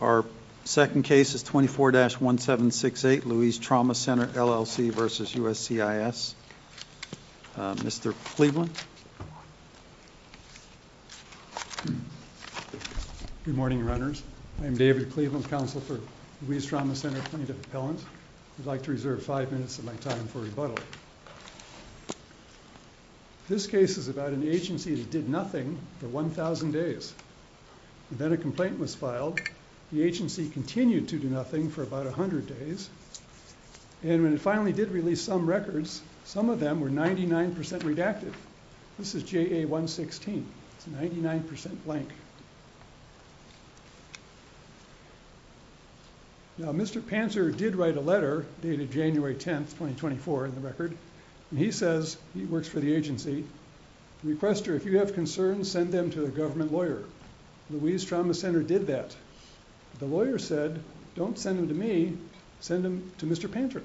Our second case is 24-1768, Louise Trauma Center LLC v. USCIS. Mr. Cleveland? Good morning, Runners. I'm David Cleveland, Counsel for Louise Trauma Center, 22nd Appellant. I'd like to reserve 5 minutes of my time for rebuttal. This case is about an agency that did nothing for 1,000 days. Then a complaint was filed. The agency continued to do nothing for about 100 days. And when it finally did release some records, some of them were 99% redacted. This is JA-116. It's 99% blank. Now, Mr. Pantor did write a letter dated January 10, 2024, in the record. And he says, he works for the agency, to request her, if you have concerns, send them to a government lawyer. Louise Trauma Center did that. The lawyer said, don't send them to me, send them to Mr. Pantor.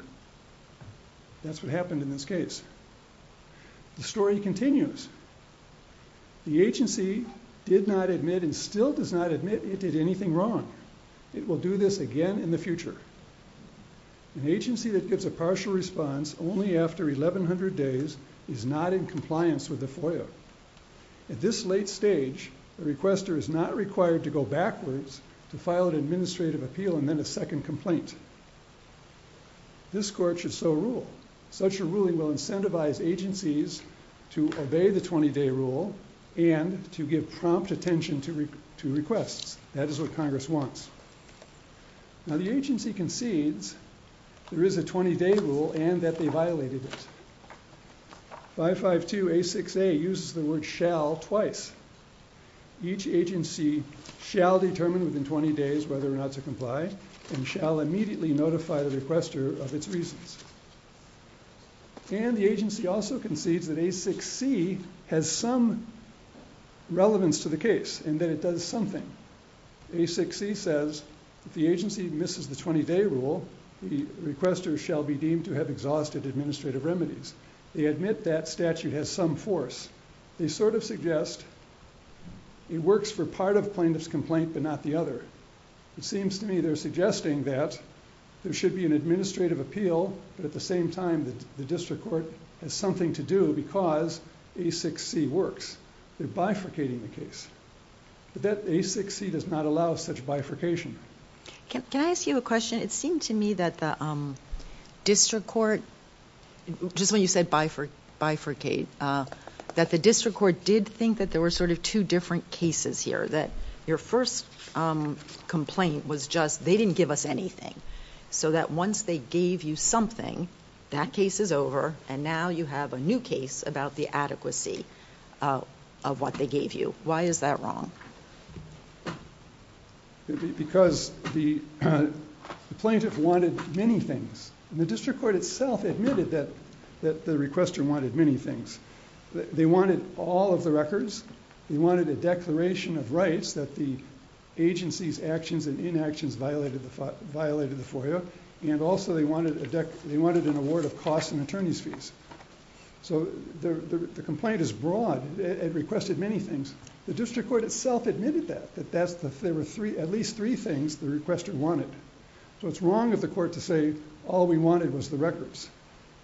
That's what happened in this case. The story continues. The agency did not admit and still does not admit it did anything wrong. It will do this again in the future. An agency that gives a partial response only after 1,100 days is not in compliance with the FOIA. At this late stage, the requester is not required to go backwards to file an administrative appeal and then a second complaint. This court should so rule. Such a ruling will incentivize agencies to obey the 20-day rule and to give prompt attention to requests. That is what Congress wants. Now, the agency concedes there is a 20-day rule and that they violated it. 552A6A uses the word shall twice. Each agency shall determine within 20 days whether or not to comply and shall immediately notify the requester of its reasons. And the agency also concedes that A6C has some relevance to the case and that it does something. A6C says if the agency misses the 20-day rule, the requester shall be deemed to have exhausted administrative remedies. They admit that statute has some force. They sort of suggest it works for part of plaintiff's complaint but not the other. It seems to me they're suggesting that there should be an administrative appeal but at the same time the district court has something to do because A6C works. They're bifurcating the case. But that A6C does not allow such bifurcation. Can I ask you a question? It seemed to me that the district court, just when you said bifurcate, that the district court did think that there were sort of two different cases here. That your first complaint was just they didn't give us anything. So that once they gave you something, that case is over and now you have a new case about the adequacy of what they gave you. Why is that wrong? Because the plaintiff wanted many things. The district court itself admitted that the requester wanted many things. They wanted all of the records. They wanted a declaration of rights that the agency's actions and inactions violated the FOIA. And also they wanted an award of costs and attorney's fees. So the complaint is broad. It requested many things. The district court itself admitted that. That there were at least three things the requester wanted. So it's wrong of the court to say all we wanted was the records.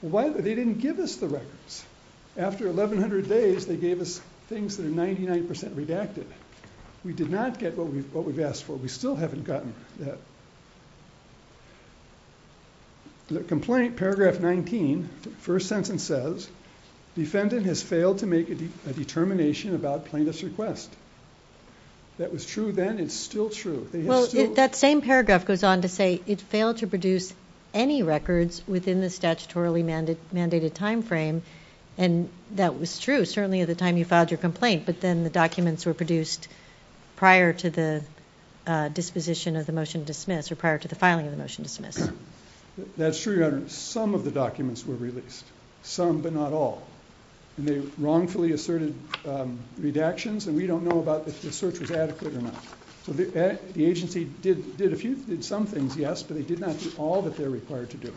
They didn't give us the records. After 1,100 days they gave us things that are 99% redacted. We did not get what we've asked for. We still haven't gotten that. The complaint, paragraph 19, first sentence says defendant has failed to make a determination about plaintiff's request. That was true then. It's still true. They have still ‑‑ Well, that same paragraph goes on to say it failed to produce any records within the statutorily mandated timeframe. And that was true certainly at the time you filed your complaint. But then the documents were produced prior to the disposition of the motion to dismiss or prior to the filing of the motion to dismiss. That's true, Your Honor. Some of the documents were released. Some, but not all. And they wrongfully asserted redactions. And we don't know about if the search was adequate or not. The agency did some things, yes, but they did not do all that they're required to do.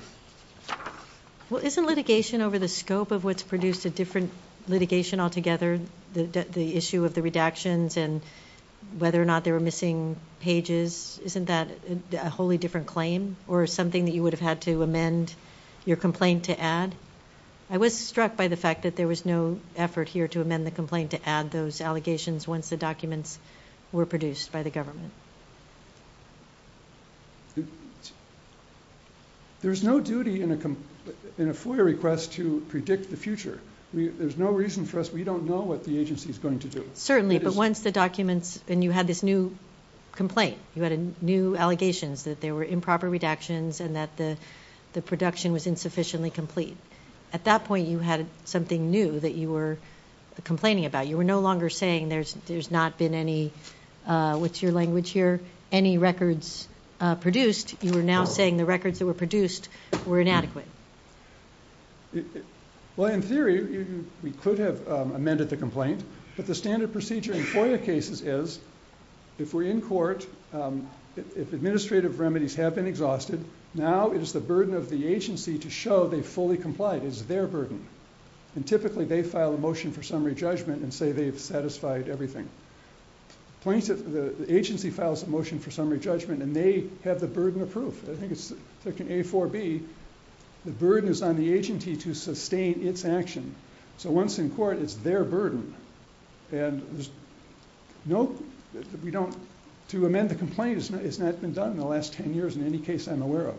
Well, isn't litigation over the scope of what's produced a different litigation altogether, the issue of the redactions and whether or not they were missing pages, isn't that a wholly different claim or something that you would have had to amend your complaint to add? I was struck by the fact that there was no effort here to amend the complaint to add those allegations once the documents were produced by the government. There's no duty in a FOIA request to predict the future. There's no reason for us, we don't know what the agency is going to do. Certainly, but once the documents, and you had this new complaint, you had new allegations that there were improper redactions and that the production was insufficiently complete. At that point, you had something new that you were complaining about. You were no longer saying there's not been any, what's your language here, any records produced. You were now saying the records that were produced were inadequate. Well, in theory, we could have amended the complaint. But the standard procedure in FOIA cases is if we're in court, if administrative remedies have been exhausted, now it is the burden of the agency to show they fully complied. It is their burden. Typically, they file a motion for summary judgment and say they've satisfied everything. The agency files a motion for summary judgment and they have the burden of proof. I think it's taken A4B, the burden is on the agency to sustain its action. Once in court, it's their burden. To amend the complaint has not been done in the last 10 years in any case I'm aware of.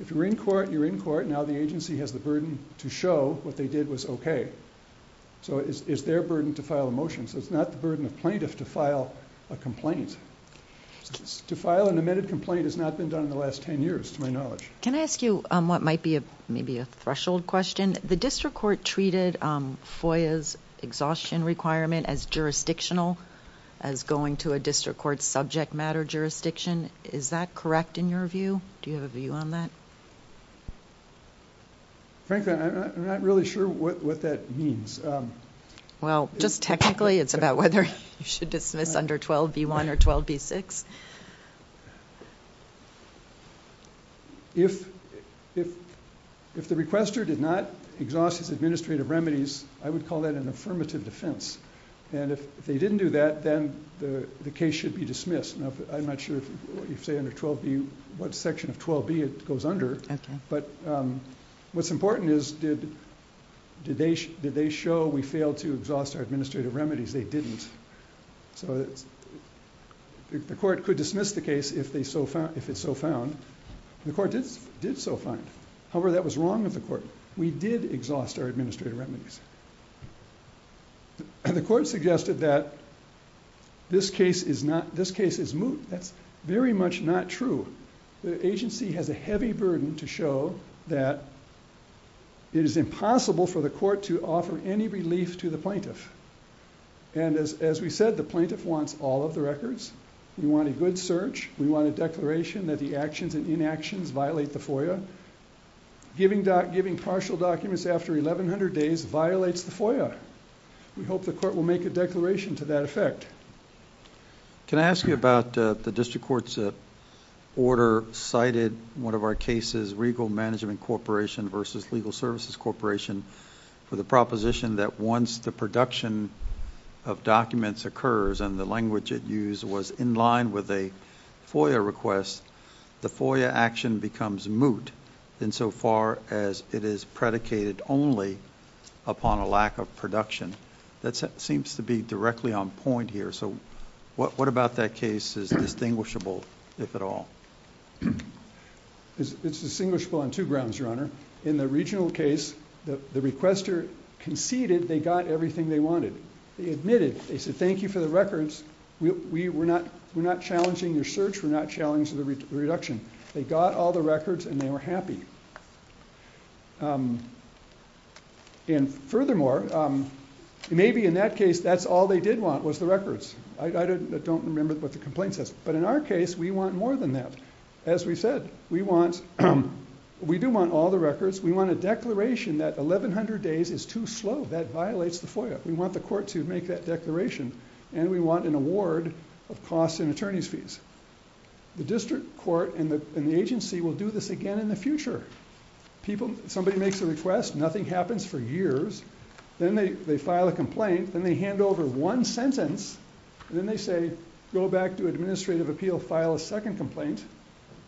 If you're in court, you're in court. Now the agency has the burden to show what they did was okay. It's their burden to file a motion. It's not the burden of plaintiff to file a complaint. To file an amended complaint has not been done in the last 10 years to my knowledge. Can I ask you what might be maybe a threshold question? The district court treated FOIA's exhaustion requirement as jurisdictional, as going to a district court subject matter jurisdiction. Is that correct in your view? Do you have a view on that? Frankly, I'm not really sure what that means. Well, just technically, it's about whether you should dismiss under 12B1 or 12B6. If the requester did not exhaust his administrative remedies, I would call that an affirmative defense. If they didn't do that, then the case should be dismissed. I'm not sure what section of 12B it goes under, but what's important is did they show we failed to exhaust our administrative remedies? They didn't. The court could dismiss the case if it's so found. The court did so find. However, that was wrong of the court. We did exhaust our administrative remedies. The court suggested that this case is moot. That's very much not true. The agency has a heavy burden to show that it is impossible for the court to offer any relief to the plaintiff. And as we said, the plaintiff wants all of the records. We want a good search. We want a declaration that the actions and inactions violate the FOIA. Giving partial documents after 1,100 days violates the FOIA. We hope the court will make a declaration to that effect. Can I ask you about the district court's order cited one of our cases, Regal Management Corporation versus Legal Services Corporation, for the proposition that once the production of documents occurs and the language it used was in line with a FOIA request, the FOIA action becomes moot insofar as it is predicated only upon a lack of production. That seems to be directly on point here. So what about that case is distinguishable, if at all? It's distinguishable on two grounds, Your Honor. In the regional case, the requester conceded they got everything they wanted. They admitted. They said, thank you for the records. We're not challenging your search. We're not challenging the reduction. They got all the records, and they were happy. And furthermore, maybe in that case, that's all they did want was the records. I don't remember what the complaint says. But in our case, we want more than that. As we said, we do want all the records. We want a declaration that 1,100 days is too slow. That violates the FOIA. We want the court to make that declaration. And we want an award of costs and attorney's fees. The district court and the agency will do this again in the future. Somebody makes a request. Nothing happens for years. Then they file a complaint. Then they hand over one sentence. Then they say, go back to administrative appeal, file a second complaint.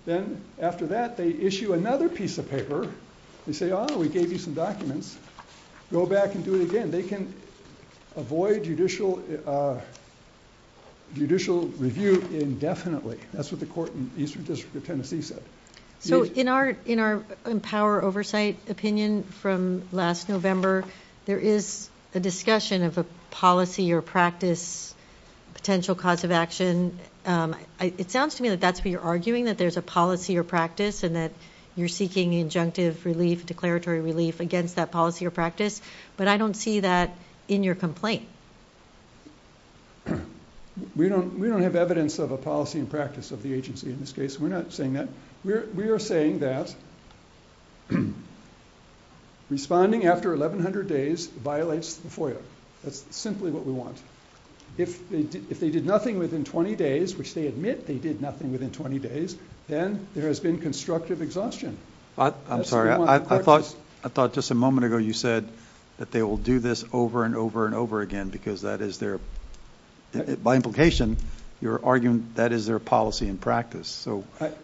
Then after that, they issue another piece of paper. They say, oh, we gave you some documents. Go back and do it again. They can avoid judicial review indefinitely. That's what the court in Eastern District of Tennessee said. In our Empower Oversight opinion from last November, there is a discussion of a policy or practice potential cause of action. It sounds to me that that's what you're arguing, that there's a policy or practice and that you're seeking injunctive relief, declaratory relief against that policy or practice. But I don't see that in your complaint. We don't have evidence of a policy and practice of the agency in this case. We're not saying that. We are saying that responding after 1,100 days violates the FOIA. That's simply what we want. If they did nothing within 20 days, which they admit they did nothing within 20 days, then there has been constructive exhaustion. I'm sorry. I thought just a moment ago you said that they will do this over and over and over again because that is their... by implication, you're arguing that is their policy and practice.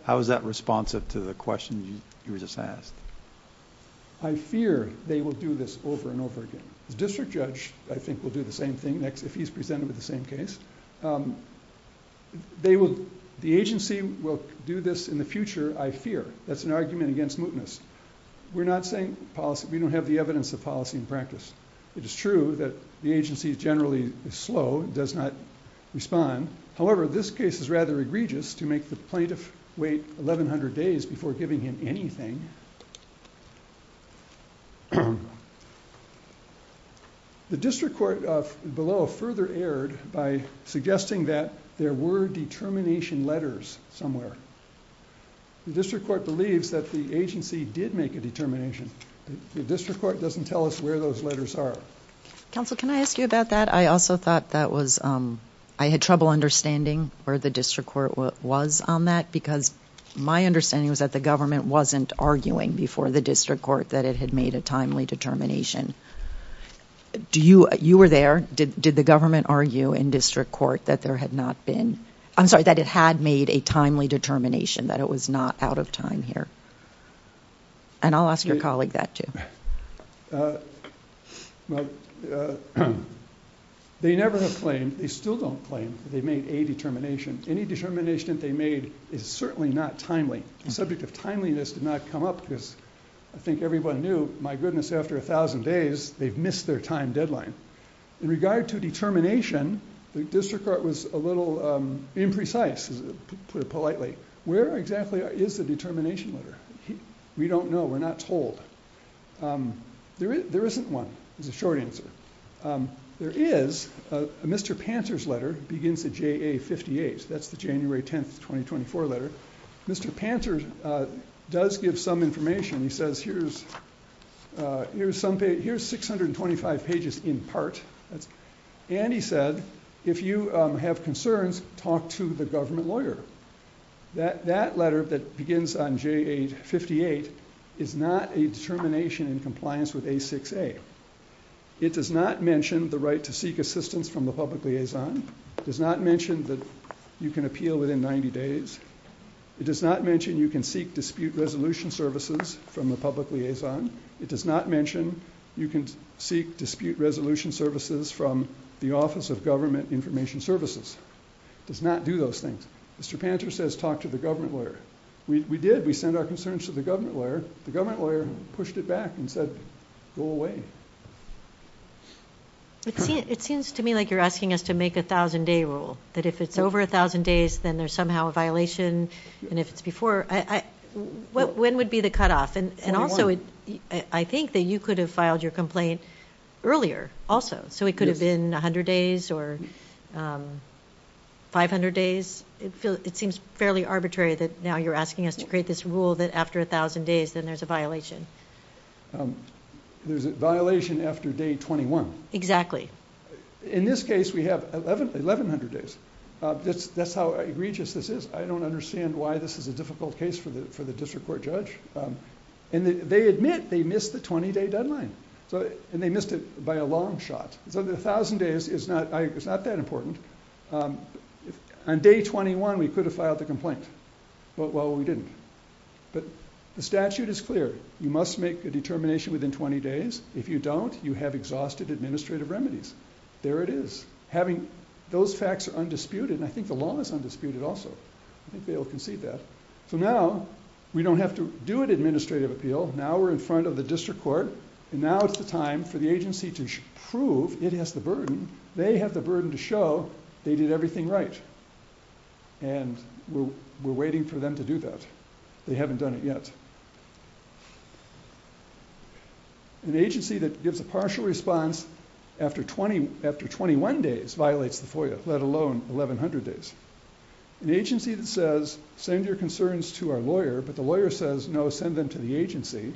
How is that responsive to the question you just asked? I fear they will do this over and over again. The district judge, I think, will do the same thing next if he's presented with the same case. The agency will do this in the future, I fear. That's an argument against mootness. We're not saying policy. We don't have the evidence of policy and practice. It is true that the agency is generally slow, does not respond. However, this case is rather egregious to make the plaintiff wait 1,100 days before giving him anything. The district court below further erred by suggesting that there were determination letters somewhere. The district court believes that the agency did make a determination. The district court doesn't tell us where those letters are. Counsel, can I ask you about that? I also thought that was... I had trouble understanding where the district court was on that because my understanding was that the government wasn't arguing before the district court that it had made a timely determination. You were there. Did the government argue in district court that there had not been... determination, that it was not out of time here? I'll ask your colleague that too. They never have claimed. They still don't claim that they made a determination. Any determination that they made is certainly not timely. The subject of timeliness did not come up because I think everyone knew, my goodness, after 1,000 days, they've missed their time deadline. In regard to determination, the district court was a little imprecise, to put it politely. Where exactly is the determination letter? We don't know. We're not told. There isn't one, is the short answer. There is a Mr. Panter's letter, begins with JA58. That's the January 10th, 2024 letter. Mr. Panter does give some information. He says, here's 625 pages in part. He said, if you have concerns, talk to the government lawyer. That letter that begins on JA58 is not a determination in compliance with A6A. It does not mention the right to seek assistance from the public liaison. It does not mention that you can appeal within 90 days. It does not mention you can seek dispute resolution services from the public liaison. It does not mention you can seek dispute resolution services from the Office of Government Information Services. It does not do those things. Mr. Panter says, talk to the government lawyer. We did. We sent our concerns to the government lawyer. The government lawyer pushed it back and said, go away. It seems to me like you're asking us to make a 1,000-day rule, that if it's over 1,000 days, then there's somehow a violation, and if it's before, when would be the cutoff? Also, I think that you could have filed your complaint earlier also. It could have been 100 days or 500 days. It seems fairly arbitrary that now you're asking us to create this rule that after 1,000 days, then there's a violation. There's a violation after day 21. Exactly. In this case, we have 1,100 days. That's how egregious this is. I don't understand why this is a difficult case for the district court judge. They admit they missed the 20-day deadline, and they missed it by a long shot. So the 1,000 days is not that important. On day 21, we could have filed the complaint. Well, we didn't. But the statute is clear. You must make a determination within 20 days. If you don't, you have exhausted administrative remedies. There it is. Those facts are undisputed, and I think the law is undisputed also. I think they'll concede that. So now we don't have to do an administrative appeal. Now we're in front of the district court, and now it's the time for the agency to prove it has the burden. They have the burden to show they did everything right, and we're waiting for them to do that. They haven't done it yet. An agency that gives a partial response after 21 days violates the FOIA, let alone 1,100 days. An agency that says, send your concerns to our lawyer, but the lawyer says, no, send them to the agency,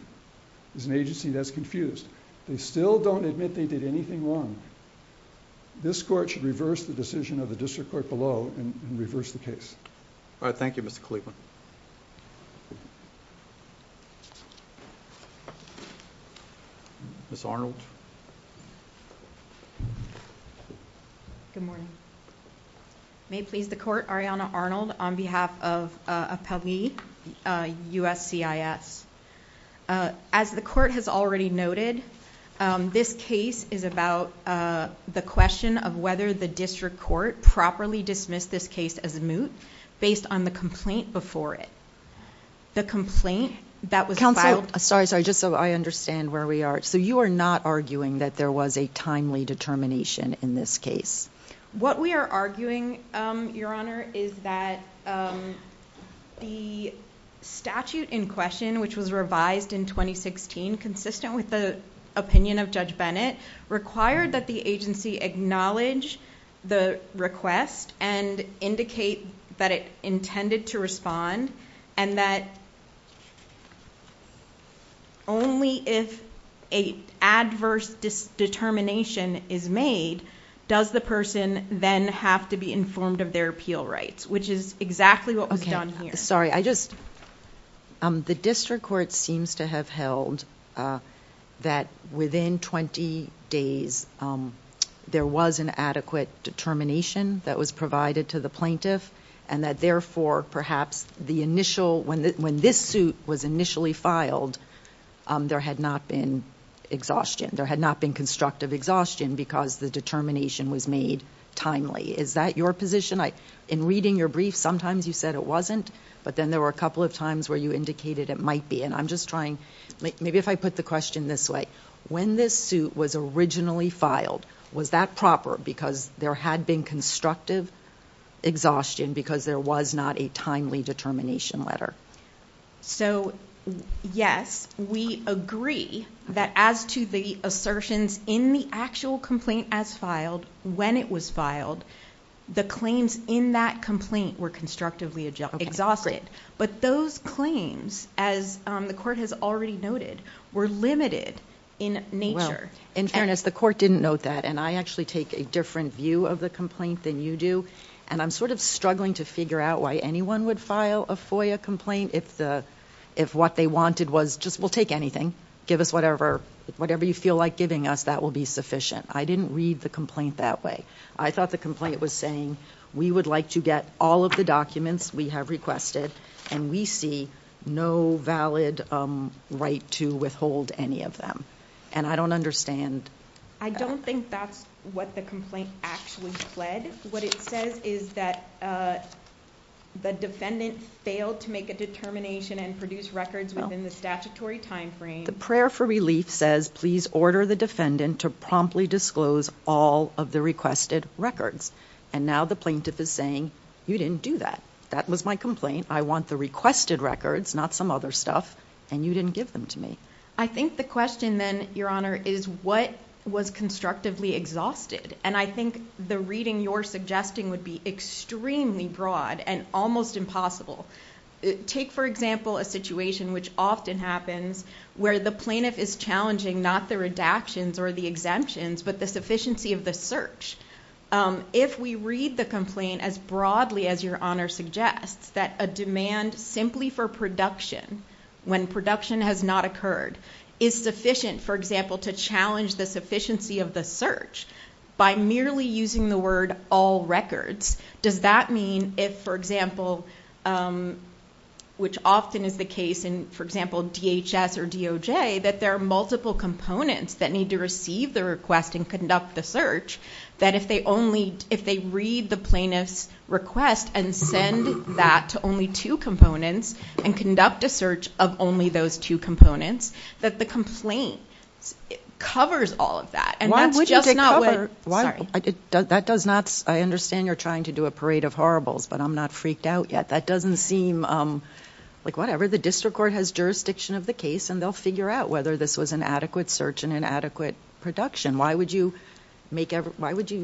is an agency that's confused. They still don't admit they did anything wrong. This court should reverse the decision of the district court below and reverse the case. Thank you, Mr. Cleveland. Ms. Arnold. Good morning. May it please the court, Arianna Arnold on behalf of Appellee USCIS. As the court has already noted, this case is about the question of whether the district court could properly dismiss this case as moot based on the complaint before it. The complaint that was filed... Counsel, sorry, just so I understand where we are. You are not arguing that there was a timely determination in this case? What we are arguing, Your Honor, is that the statute in question, which was revised in 2016, consistent with the opinion of Judge Bennett, required that the agency acknowledge the request and indicate that it intended to respond and that only if an adverse determination is made, does the person then have to be informed of their appeal rights, which is exactly what was done here. Sorry, I just... There was an adequate determination that was provided to the plaintiff and that, therefore, perhaps when this suit was initially filed, there had not been exhaustion. There had not been constructive exhaustion because the determination was made timely. Is that your position? In reading your brief, sometimes you said it wasn't, but then there were a couple of times where you indicated it might be, and I'm just trying... Maybe if I put the question this way. When this suit was originally filed, was that proper because there had been constructive exhaustion because there was not a timely determination letter? Yes. We agree that as to the assertions in the actual complaint as filed, when it was filed, the claims in that complaint were constructively exhausted. But those claims, as the court has already noted, were limited in nature. In fairness, the court didn't note that, and I actually take a different view of the complaint than you do, and I'm sort of struggling to figure out why anyone would file a FOIA complaint if what they wanted was just, we'll take anything, give us whatever you feel like giving us, that will be sufficient. I didn't read the complaint that way. I thought the complaint was saying, we would like to get all of the documents we have requested, and we see no valid right to withhold any of them. And I don't understand... I don't think that's what the complaint actually said. What it says is that the defendant failed to make a determination and produce records within the statutory timeframe. The prayer for relief says, please order the defendant to promptly disclose all of the requested records. And now the plaintiff is saying, you didn't do that. That was my complaint. I want the requested records, not some other stuff, and you didn't give them to me. I think the question then, Your Honor, is what was constructively exhausted? And I think the reading you're suggesting would be extremely broad and almost impossible. Take, for example, a situation which often happens where the plaintiff is challenging not the redactions or the exemptions, but the sufficiency of the search. If we read the complaint as broadly as Your Honor suggests, that a demand simply for production, when production has not occurred, is sufficient, for example, to challenge the sufficiency of the search, by merely using the word all records, does that mean if, for example, which often is the case in, for example, DHS or DOJ, that there are multiple components that need to receive the request and conduct the search, that if they read the plaintiff's request and send that to only two components and conduct a search of only those two components, that the complaint covers all of that. And that's just not what... Sorry. That does not... I understand you're trying to do a parade of horribles, but I'm not freaked out yet. That doesn't seem like whatever. The district court has jurisdiction of the case, and they'll figure out whether this was an adequate search and an adequate production. Why would you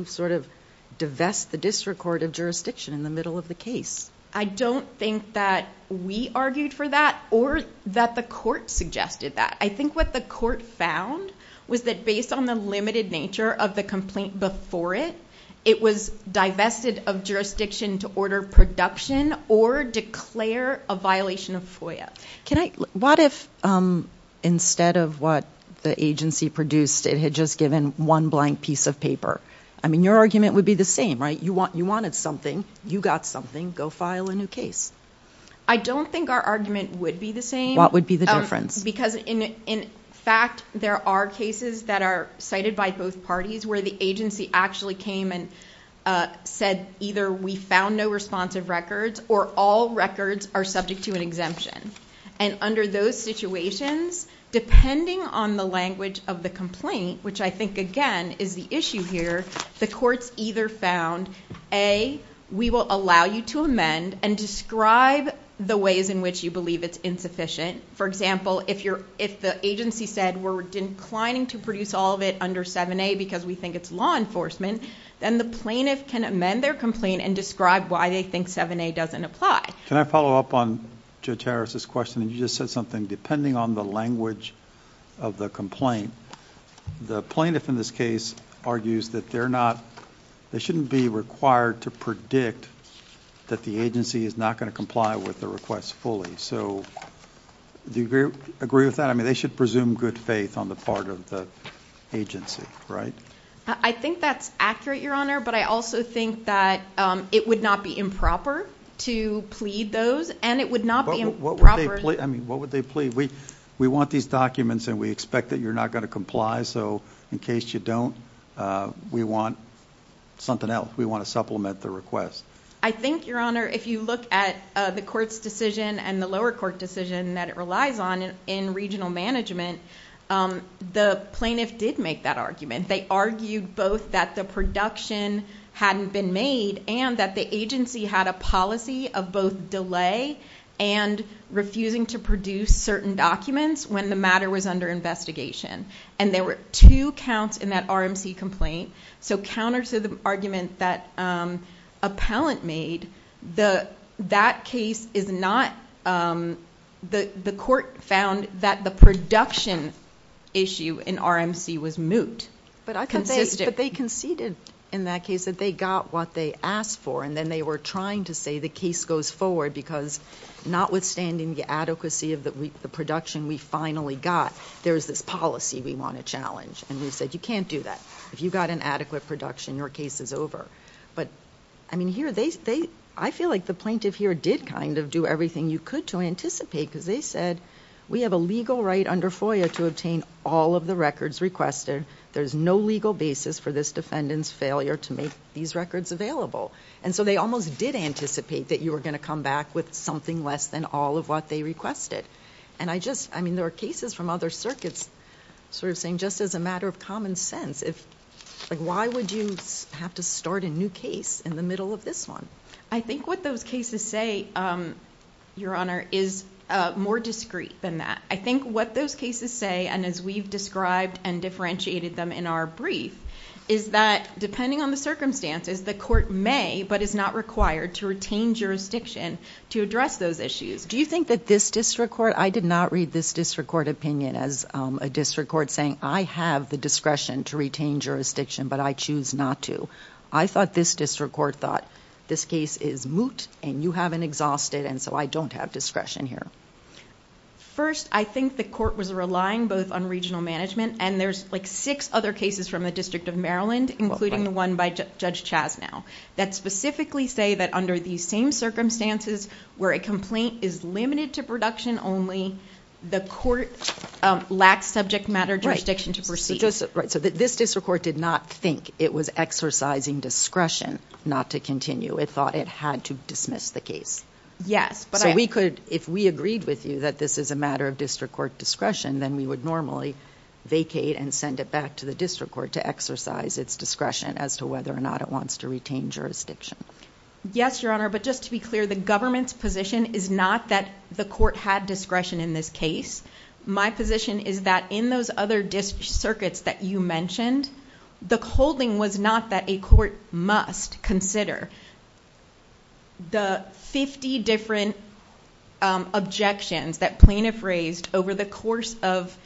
sort of divest the district court of jurisdiction in the middle of the case? I don't think that we argued for that or that the court suggested that. I think what the court found was that based on the limited nature of the complaint before it, it was divested of jurisdiction to order production or declare a violation of FOIA. What if instead of what the agency produced, it had just given one blank piece of paper? I mean, your argument would be the same, right? You wanted something. You got something. Go file a new case. I don't think our argument would be the same. What would be the difference? Because, in fact, there are cases that are cited by both parties where the agency actually came and said either we found no responsive records or all records are subject to an exemption. And under those situations, depending on the language of the complaint, which I think, again, is the issue here, the courts either found, A, we will allow you to amend and describe the ways in which you believe it's insufficient. For example, if the agency said we're declining to produce all of it under 7A because we think it's law enforcement, then the plaintiff can amend their complaint and describe why they think 7A doesn't apply. Can I follow up on Judge Harris' question? You just said something. Depending on the language of the complaint, the plaintiff in this case argues that they shouldn't be required to predict that the agency is not going to comply with the request fully. Do you agree with that? I mean, they should presume good faith on the part of the agency, right? I think that's accurate, Your Honor, but I also think that it would not be improper to plead those, and it would not be improper. What would they plead? We want these documents and we expect that you're not going to comply, so in case you don't, we want something else. We want to supplement the request. I think, Your Honor, if you look at the court's decision and the lower court decision that it relies on in regional management, the plaintiff did make that argument. They argued both that the production hadn't been made and that the agency had a policy of both delay and refusing to produce certain documents when the matter was under investigation. There were two counts in that RMC complaint, so counter to the argument that appellant made, that case is not... The court found that the production issue in RMC was moot. But I think they conceded in that case that they got what they asked for and then they were trying to say the case goes forward because notwithstanding the adequacy of the production we finally got, there's this policy we want to challenge, and we said, you can't do that. If you got an adequate production, your case is over. I feel like the plaintiff here did do everything you could to anticipate because they said we have a legal right under FOIA to obtain all of the records requested. There's no legal basis for this defendant's failure to make these records available. So they almost did anticipate that you were going to come back with something less than all of what they requested. There are cases from other circuits saying, just as a matter of common sense, why would you have to start a new case in the middle of this one? I think what those cases say, Your Honor, is more discreet than that. I think what those cases say, and as we've described and differentiated them in our brief, is that depending on the circumstances, the court may but is not required to retain jurisdiction to address those issues. Do you think that this district court... I did not read this district court opinion as a district court saying, I have the discretion to retain jurisdiction but I choose not to. I thought this district court thought, this case is moot and you haven't exhausted and so I don't have discretion here. First, I think the court was relying both on regional management and there's like six other cases from the District of Maryland, including the one by Judge Chasnow, that specifically say that under these same circumstances where a complaint is limited to production only, the court lacks subject matter jurisdiction to proceed. Right. So this district court did not think it was exercising discretion not to continue. It thought it had to dismiss the case. Yes. So if we agreed with you that this is a matter of district court discretion, then we would normally vacate and send it back to the district court to exercise its discretion as to whether or not it wants to retain jurisdiction. Yes, Your Honor. But just to be clear, the government's position is not that the court had discretion in this case. My position is that in those other district circuits that you mentioned, the holding was not that a court must consider the 50 different objections that plaintiff raised over the course of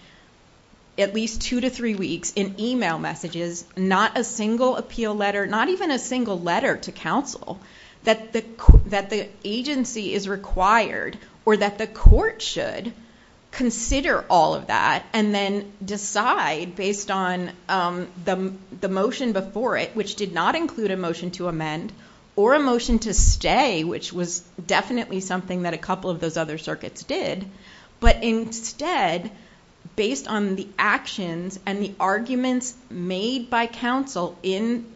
at least two to three weeks in email messages, not a single appeal letter, not even a single letter to counsel, that the agency is required or that the court should consider all of that and then decide based on the motion before it, which did not include a motion to amend or a motion to stay, which was definitely something that a couple of those other circuits did. But instead, based on the actions and the arguments made by counsel in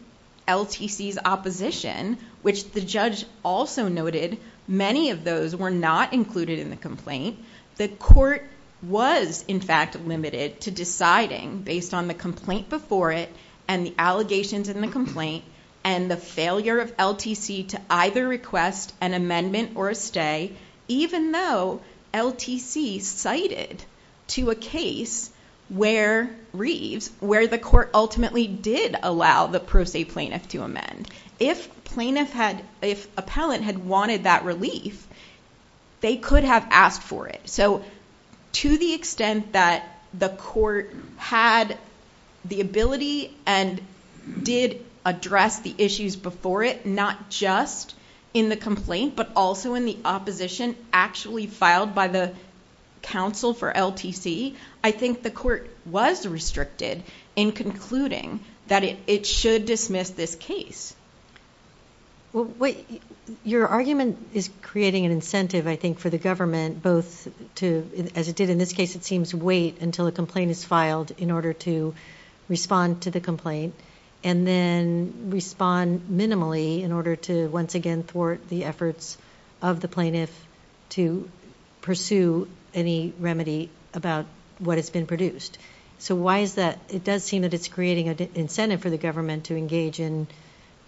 LTC's opposition, which the judge also noted, many of those were not included in the complaint. The court was, in fact, limited to deciding based on the complaint before it and the allegations in the complaint and the failure of LTC to either request an amendment or a stay, even though LTC cited to a case where the court ultimately did allow the pro se plaintiff to amend. If appellant had wanted that relief, they could have asked for it. So to the extent that the court had the ability and did address the issues before it, not just in the complaint, but also in the opposition actually filed by the counsel for LTC, I think the court was restricted in concluding that it should dismiss this case. Your argument is creating an incentive, I think, for the government both to, as it did in this case, it seems, wait until a complaint is filed in order to respond to the complaint and then respond minimally in order to, once again, thwart the efforts of the plaintiff to pursue any remedy about what has been produced. So why is that? It does seem that it's creating an incentive for the government to engage in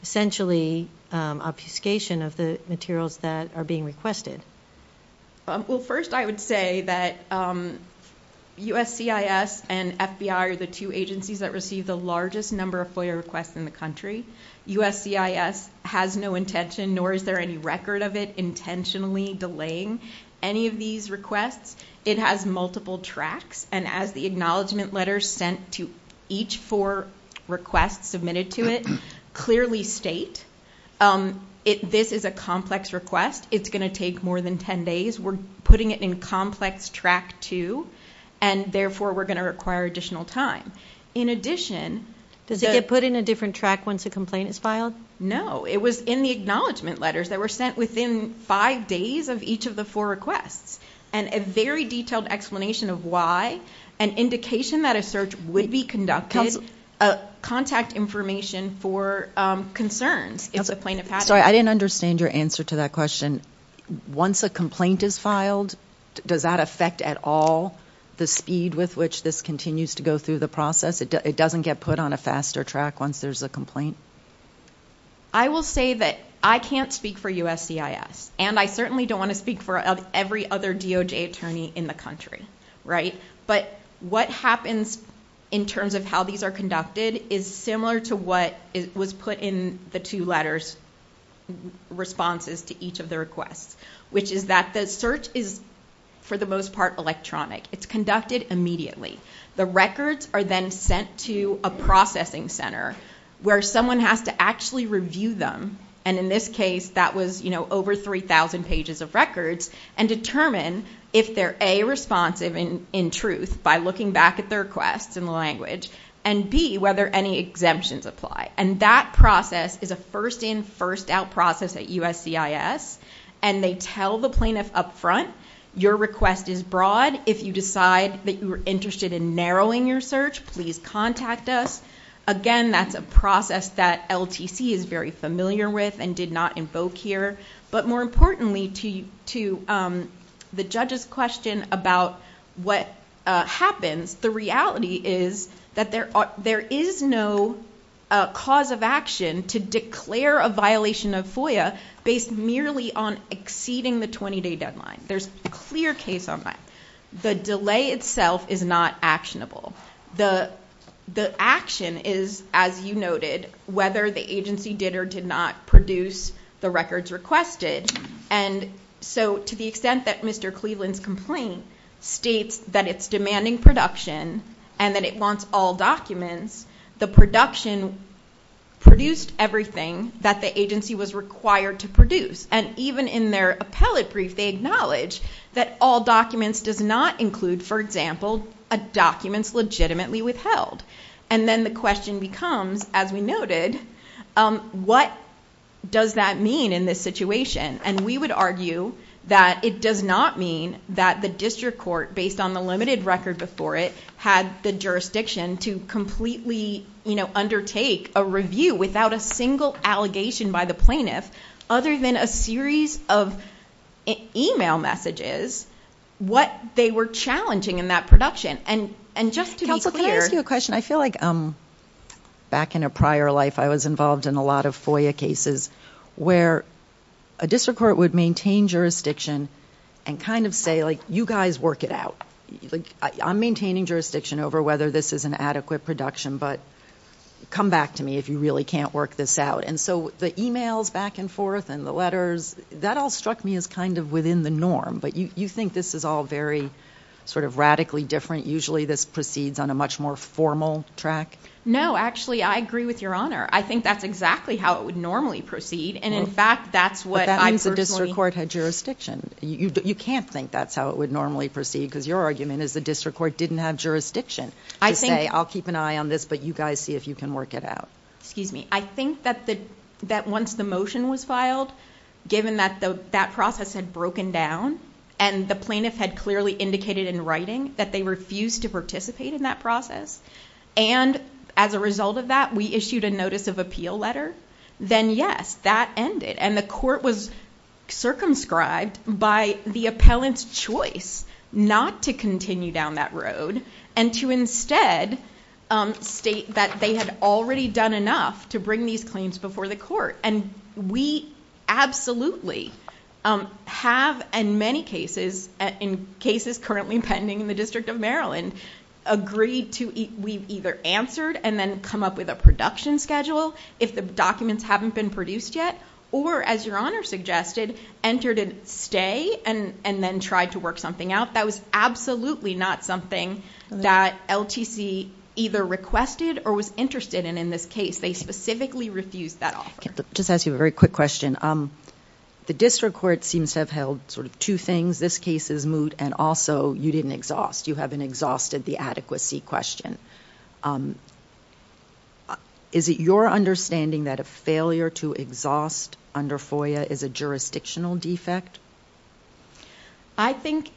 essentially obfuscation of the materials that are being requested. Well, first I would say that USCIS and FBI are the two agencies that receive the largest number of FOIA requests in the country. USCIS has no intention, nor is there any record of it, intentionally delaying any of these requests. It has multiple tracks, and as the acknowledgment letter sent to each four requests submitted to it clearly state, this is a complex request. It's going to take more than ten days. We're putting it in complex track two, and therefore we're going to require additional time. Does it get put in a different track once a complaint is filed? It was in the acknowledgment letters that were sent within five days of each of the four requests. And a very detailed explanation of why, an indication that a search would be conducted, contact information for concerns if the plaintiff has it. Sorry, I didn't understand your answer to that question. Once a complaint is filed, does that affect at all the speed with which this continues to go through the process? It doesn't get put on a faster track once there's a complaint? I will say that I can't speak for USCIS, and I certainly don't want to speak for every other DOJ attorney in the country, right? But what happens in terms of how these are conducted is similar to what was put in the two letters responses to each of the requests, which is that the search is, for the most part, electronic. It's conducted immediately. The records are then sent to a processing center where someone has to actually review them, and in this case, that was over 3,000 pages of records, and determine if they're, A, responsive in truth by looking back at their requests in the language, and, B, whether any exemptions apply. And that process is a first-in, first-out process at USCIS, and they tell the plaintiff up front, your request is broad. If you decide that you're interested in narrowing your search, please contact us. Again, that's a process that LTC is very familiar with and did not invoke here. But more importantly, to the judge's question about what happens, the reality is that there is no cause of action to declare a violation of FOIA based merely on exceeding the 20-day deadline. There's a clear case on that. The delay itself is not actionable. The action is, as you noted, whether the agency did or did not produce the records requested. And so to the extent that Mr. Cleveland's complaint states that it's demanding production and that it wants all documents, the production produced everything that the agency was required to produce. And even in their appellate brief, they acknowledge that all documents does not include, for example, documents legitimately withheld. And then the question becomes, as we noted, what does that mean in this situation? And we would argue that it does not mean that the district court, based on the limited record before it, had the jurisdiction to completely undertake a review without a single allegation by the plaintiff other than a series of e-mail messages what they were challenging in that production. And just to be clear... Counsel, can I ask you a question? I feel like back in a prior life I was involved in a lot of FOIA cases where a district court would maintain jurisdiction and kind of say, like, you guys work it out. Like, I'm maintaining jurisdiction over whether this is an adequate production, but come back to me if you really can't work this out. And so the e-mails back and forth and the letters, that all struck me as kind of within the norm. But you think this is all very sort of radically different? Usually this proceeds on a much more formal track? No, actually, I agree with Your Honor. I think that's exactly how it would normally proceed. And in fact, that's what I personally... But that means the district court had jurisdiction. You can't think that's how it would normally proceed because your argument is the district court didn't have jurisdiction to say, I'll keep an eye on this, but you guys see if you can work it out. Excuse me. I think that once the motion was filed, given that that process had broken down and the plaintiff had clearly indicated in writing that they refused to participate in that process, and as a result of that, we issued a notice of appeal letter, then, yes, that ended. And the court was circumscribed by the appellant's choice not to continue down that road and to instead state that they had already done enough to bring these claims before the court. And we absolutely have, in many cases, in cases currently pending in the District of Maryland, agreed to... We've either answered and then come up with a production schedule if the documents haven't been produced yet, or, as Your Honor suggested, entered a stay and then tried to work something out. That was absolutely not something that LTC either requested or was interested in in this case. They specifically refused that offer. I'll just ask you a very quick question. The district court seems to have held sort of two things. This case is moot, and also you didn't exhaust. You haven't exhausted the adequacy question. Is it your understanding that a failure to exhaust under FOIA is a jurisdictional defect? I think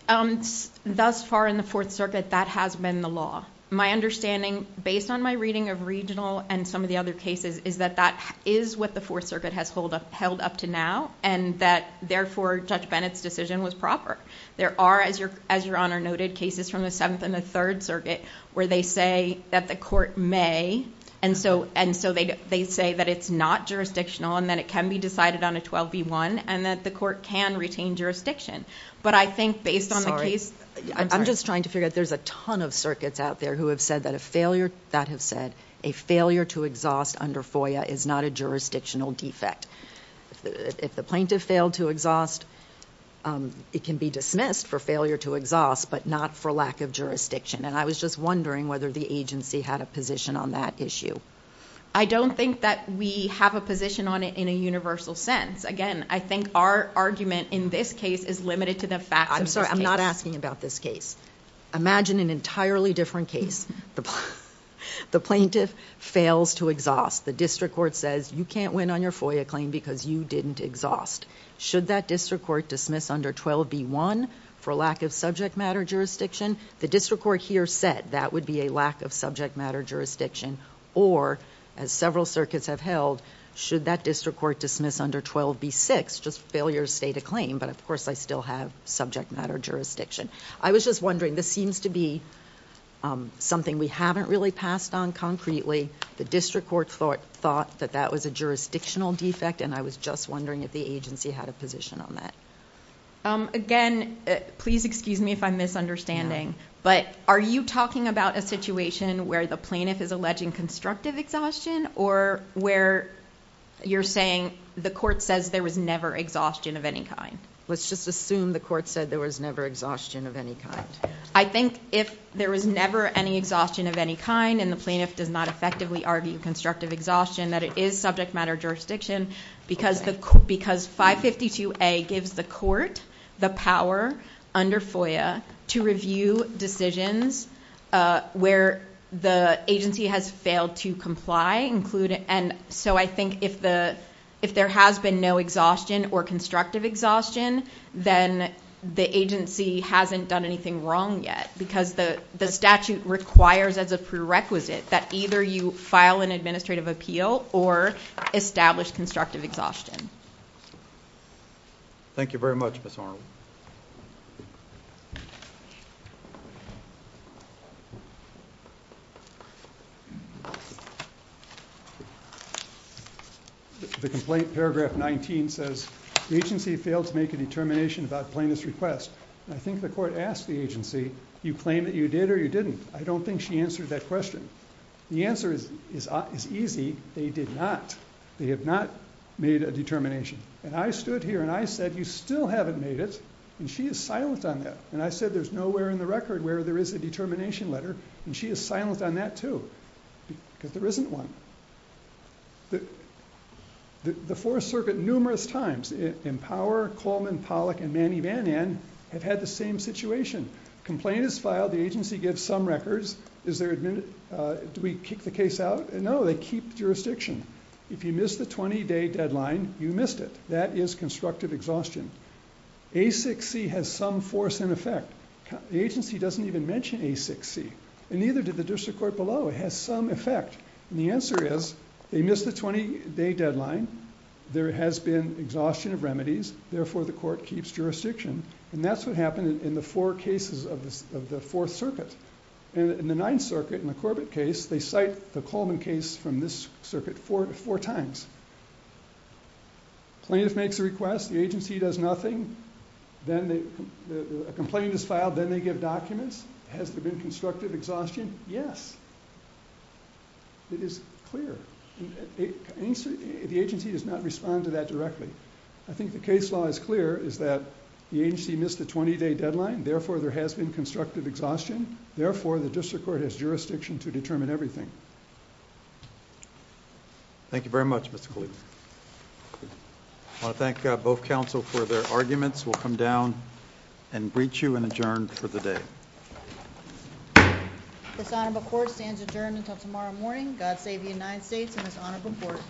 thus far in the Fourth Circuit that has been the law. My understanding, based on my reading of regional and some of the other cases, is that that is what the Fourth Circuit has held up to now and that, therefore, Judge Bennett's decision was proper. There are, as Your Honor noted, cases from the Seventh and the Third Circuit where they say that the court may, and so they say that it's not jurisdictional and that it can be decided on a 12B1 and that the court can retain jurisdiction. But I think based on the case... I'm sorry. I'm just trying to figure out. There's a ton of circuits out there who have said that a failure... that have said a failure to exhaust under FOIA is not a jurisdictional defect. If the plaintiff failed to exhaust, it can be dismissed for failure to exhaust, but not for lack of jurisdiction. And I was just wondering whether the agency had a position on that issue. I don't think that we have a position on it in a universal sense. Again, I think our argument in this case is limited to the facts of this case. I'm sorry. I'm not asking about this case. Imagine an entirely different case. The plaintiff fails to exhaust. The district court says, you can't win on your FOIA claim because you didn't exhaust. Should that district court dismiss under 12B1 for lack of subject matter jurisdiction? The district court here said that would be a lack of subject matter jurisdiction. Or, as several circuits have held, should that district court dismiss under 12B6, just failure to state a claim, but of course I still have subject matter jurisdiction. I was just wondering. This seems to be something we haven't really passed on concretely. The district court thought that that was a jurisdictional defect, and I was just wondering if the agency had a position on that. Again, please excuse me if I'm misunderstanding, but are you talking about a situation where the plaintiff is alleging constructive exhaustion or where you're saying the court says there was never exhaustion of any kind? Let's just assume the court said there was never exhaustion of any kind. I think if there was never any exhaustion of any kind and the plaintiff does not effectively argue constructive exhaustion, that it is subject matter jurisdiction because 552A gives the court the power under FOIA to review decisions where the agency has failed to comply. So I think if there has been no exhaustion or constructive exhaustion, then the agency hasn't done anything wrong yet because the statute requires as a prerequisite that either you file an administrative appeal or establish constructive exhaustion. Thank you very much, Ms. Harwell. The complaint, paragraph 19, says, the agency failed to make a determination about plaintiff's request. I think the court asked the agency, you claim that you did or you didn't. I don't think she answered that question. The answer is easy. They did not. They have not made a determination. And I stood here and I said, you still haven't made it, and she is silent on that. And I said, there's nowhere in the record where there is a determination or a determination letter, and she is silent on that, too, because there isn't one. The Fourth Circuit, numerous times, Empower, Coleman, Pollack, and Manny Mannan have had the same situation. Complaint is filed. The agency gives some records. Do we kick the case out? No, they keep the jurisdiction. If you missed the 20-day deadline, you missed it. That is constructive exhaustion. ASIC-C has some force and effect. The agency doesn't even mention ASIC-C, and neither did the district court below. It has some effect. And the answer is, they missed the 20-day deadline. There has been exhaustion of remedies. Therefore, the court keeps jurisdiction. And that's what happened in the four cases of the Fourth Circuit. In the Ninth Circuit, in the Corbett case, they cite the Coleman case from this circuit four times. Plaintiff makes a request. The agency does nothing. Then a complaint is filed. Then they give documents. Has there been constructive exhaustion? Yes. It is clear. The agency does not respond to that directly. I think the case law is clear, is that the agency missed the 20-day deadline. Therefore, there has been constructive exhaustion. Therefore, the district court has jurisdiction to determine everything. Thank you very much, Mr. Cleaver. I want to thank both counsel for their arguments. We'll come down and breach you and adjourn for the day. This honorable court stands adjourned until tomorrow morning. God save the United States and this honorable court.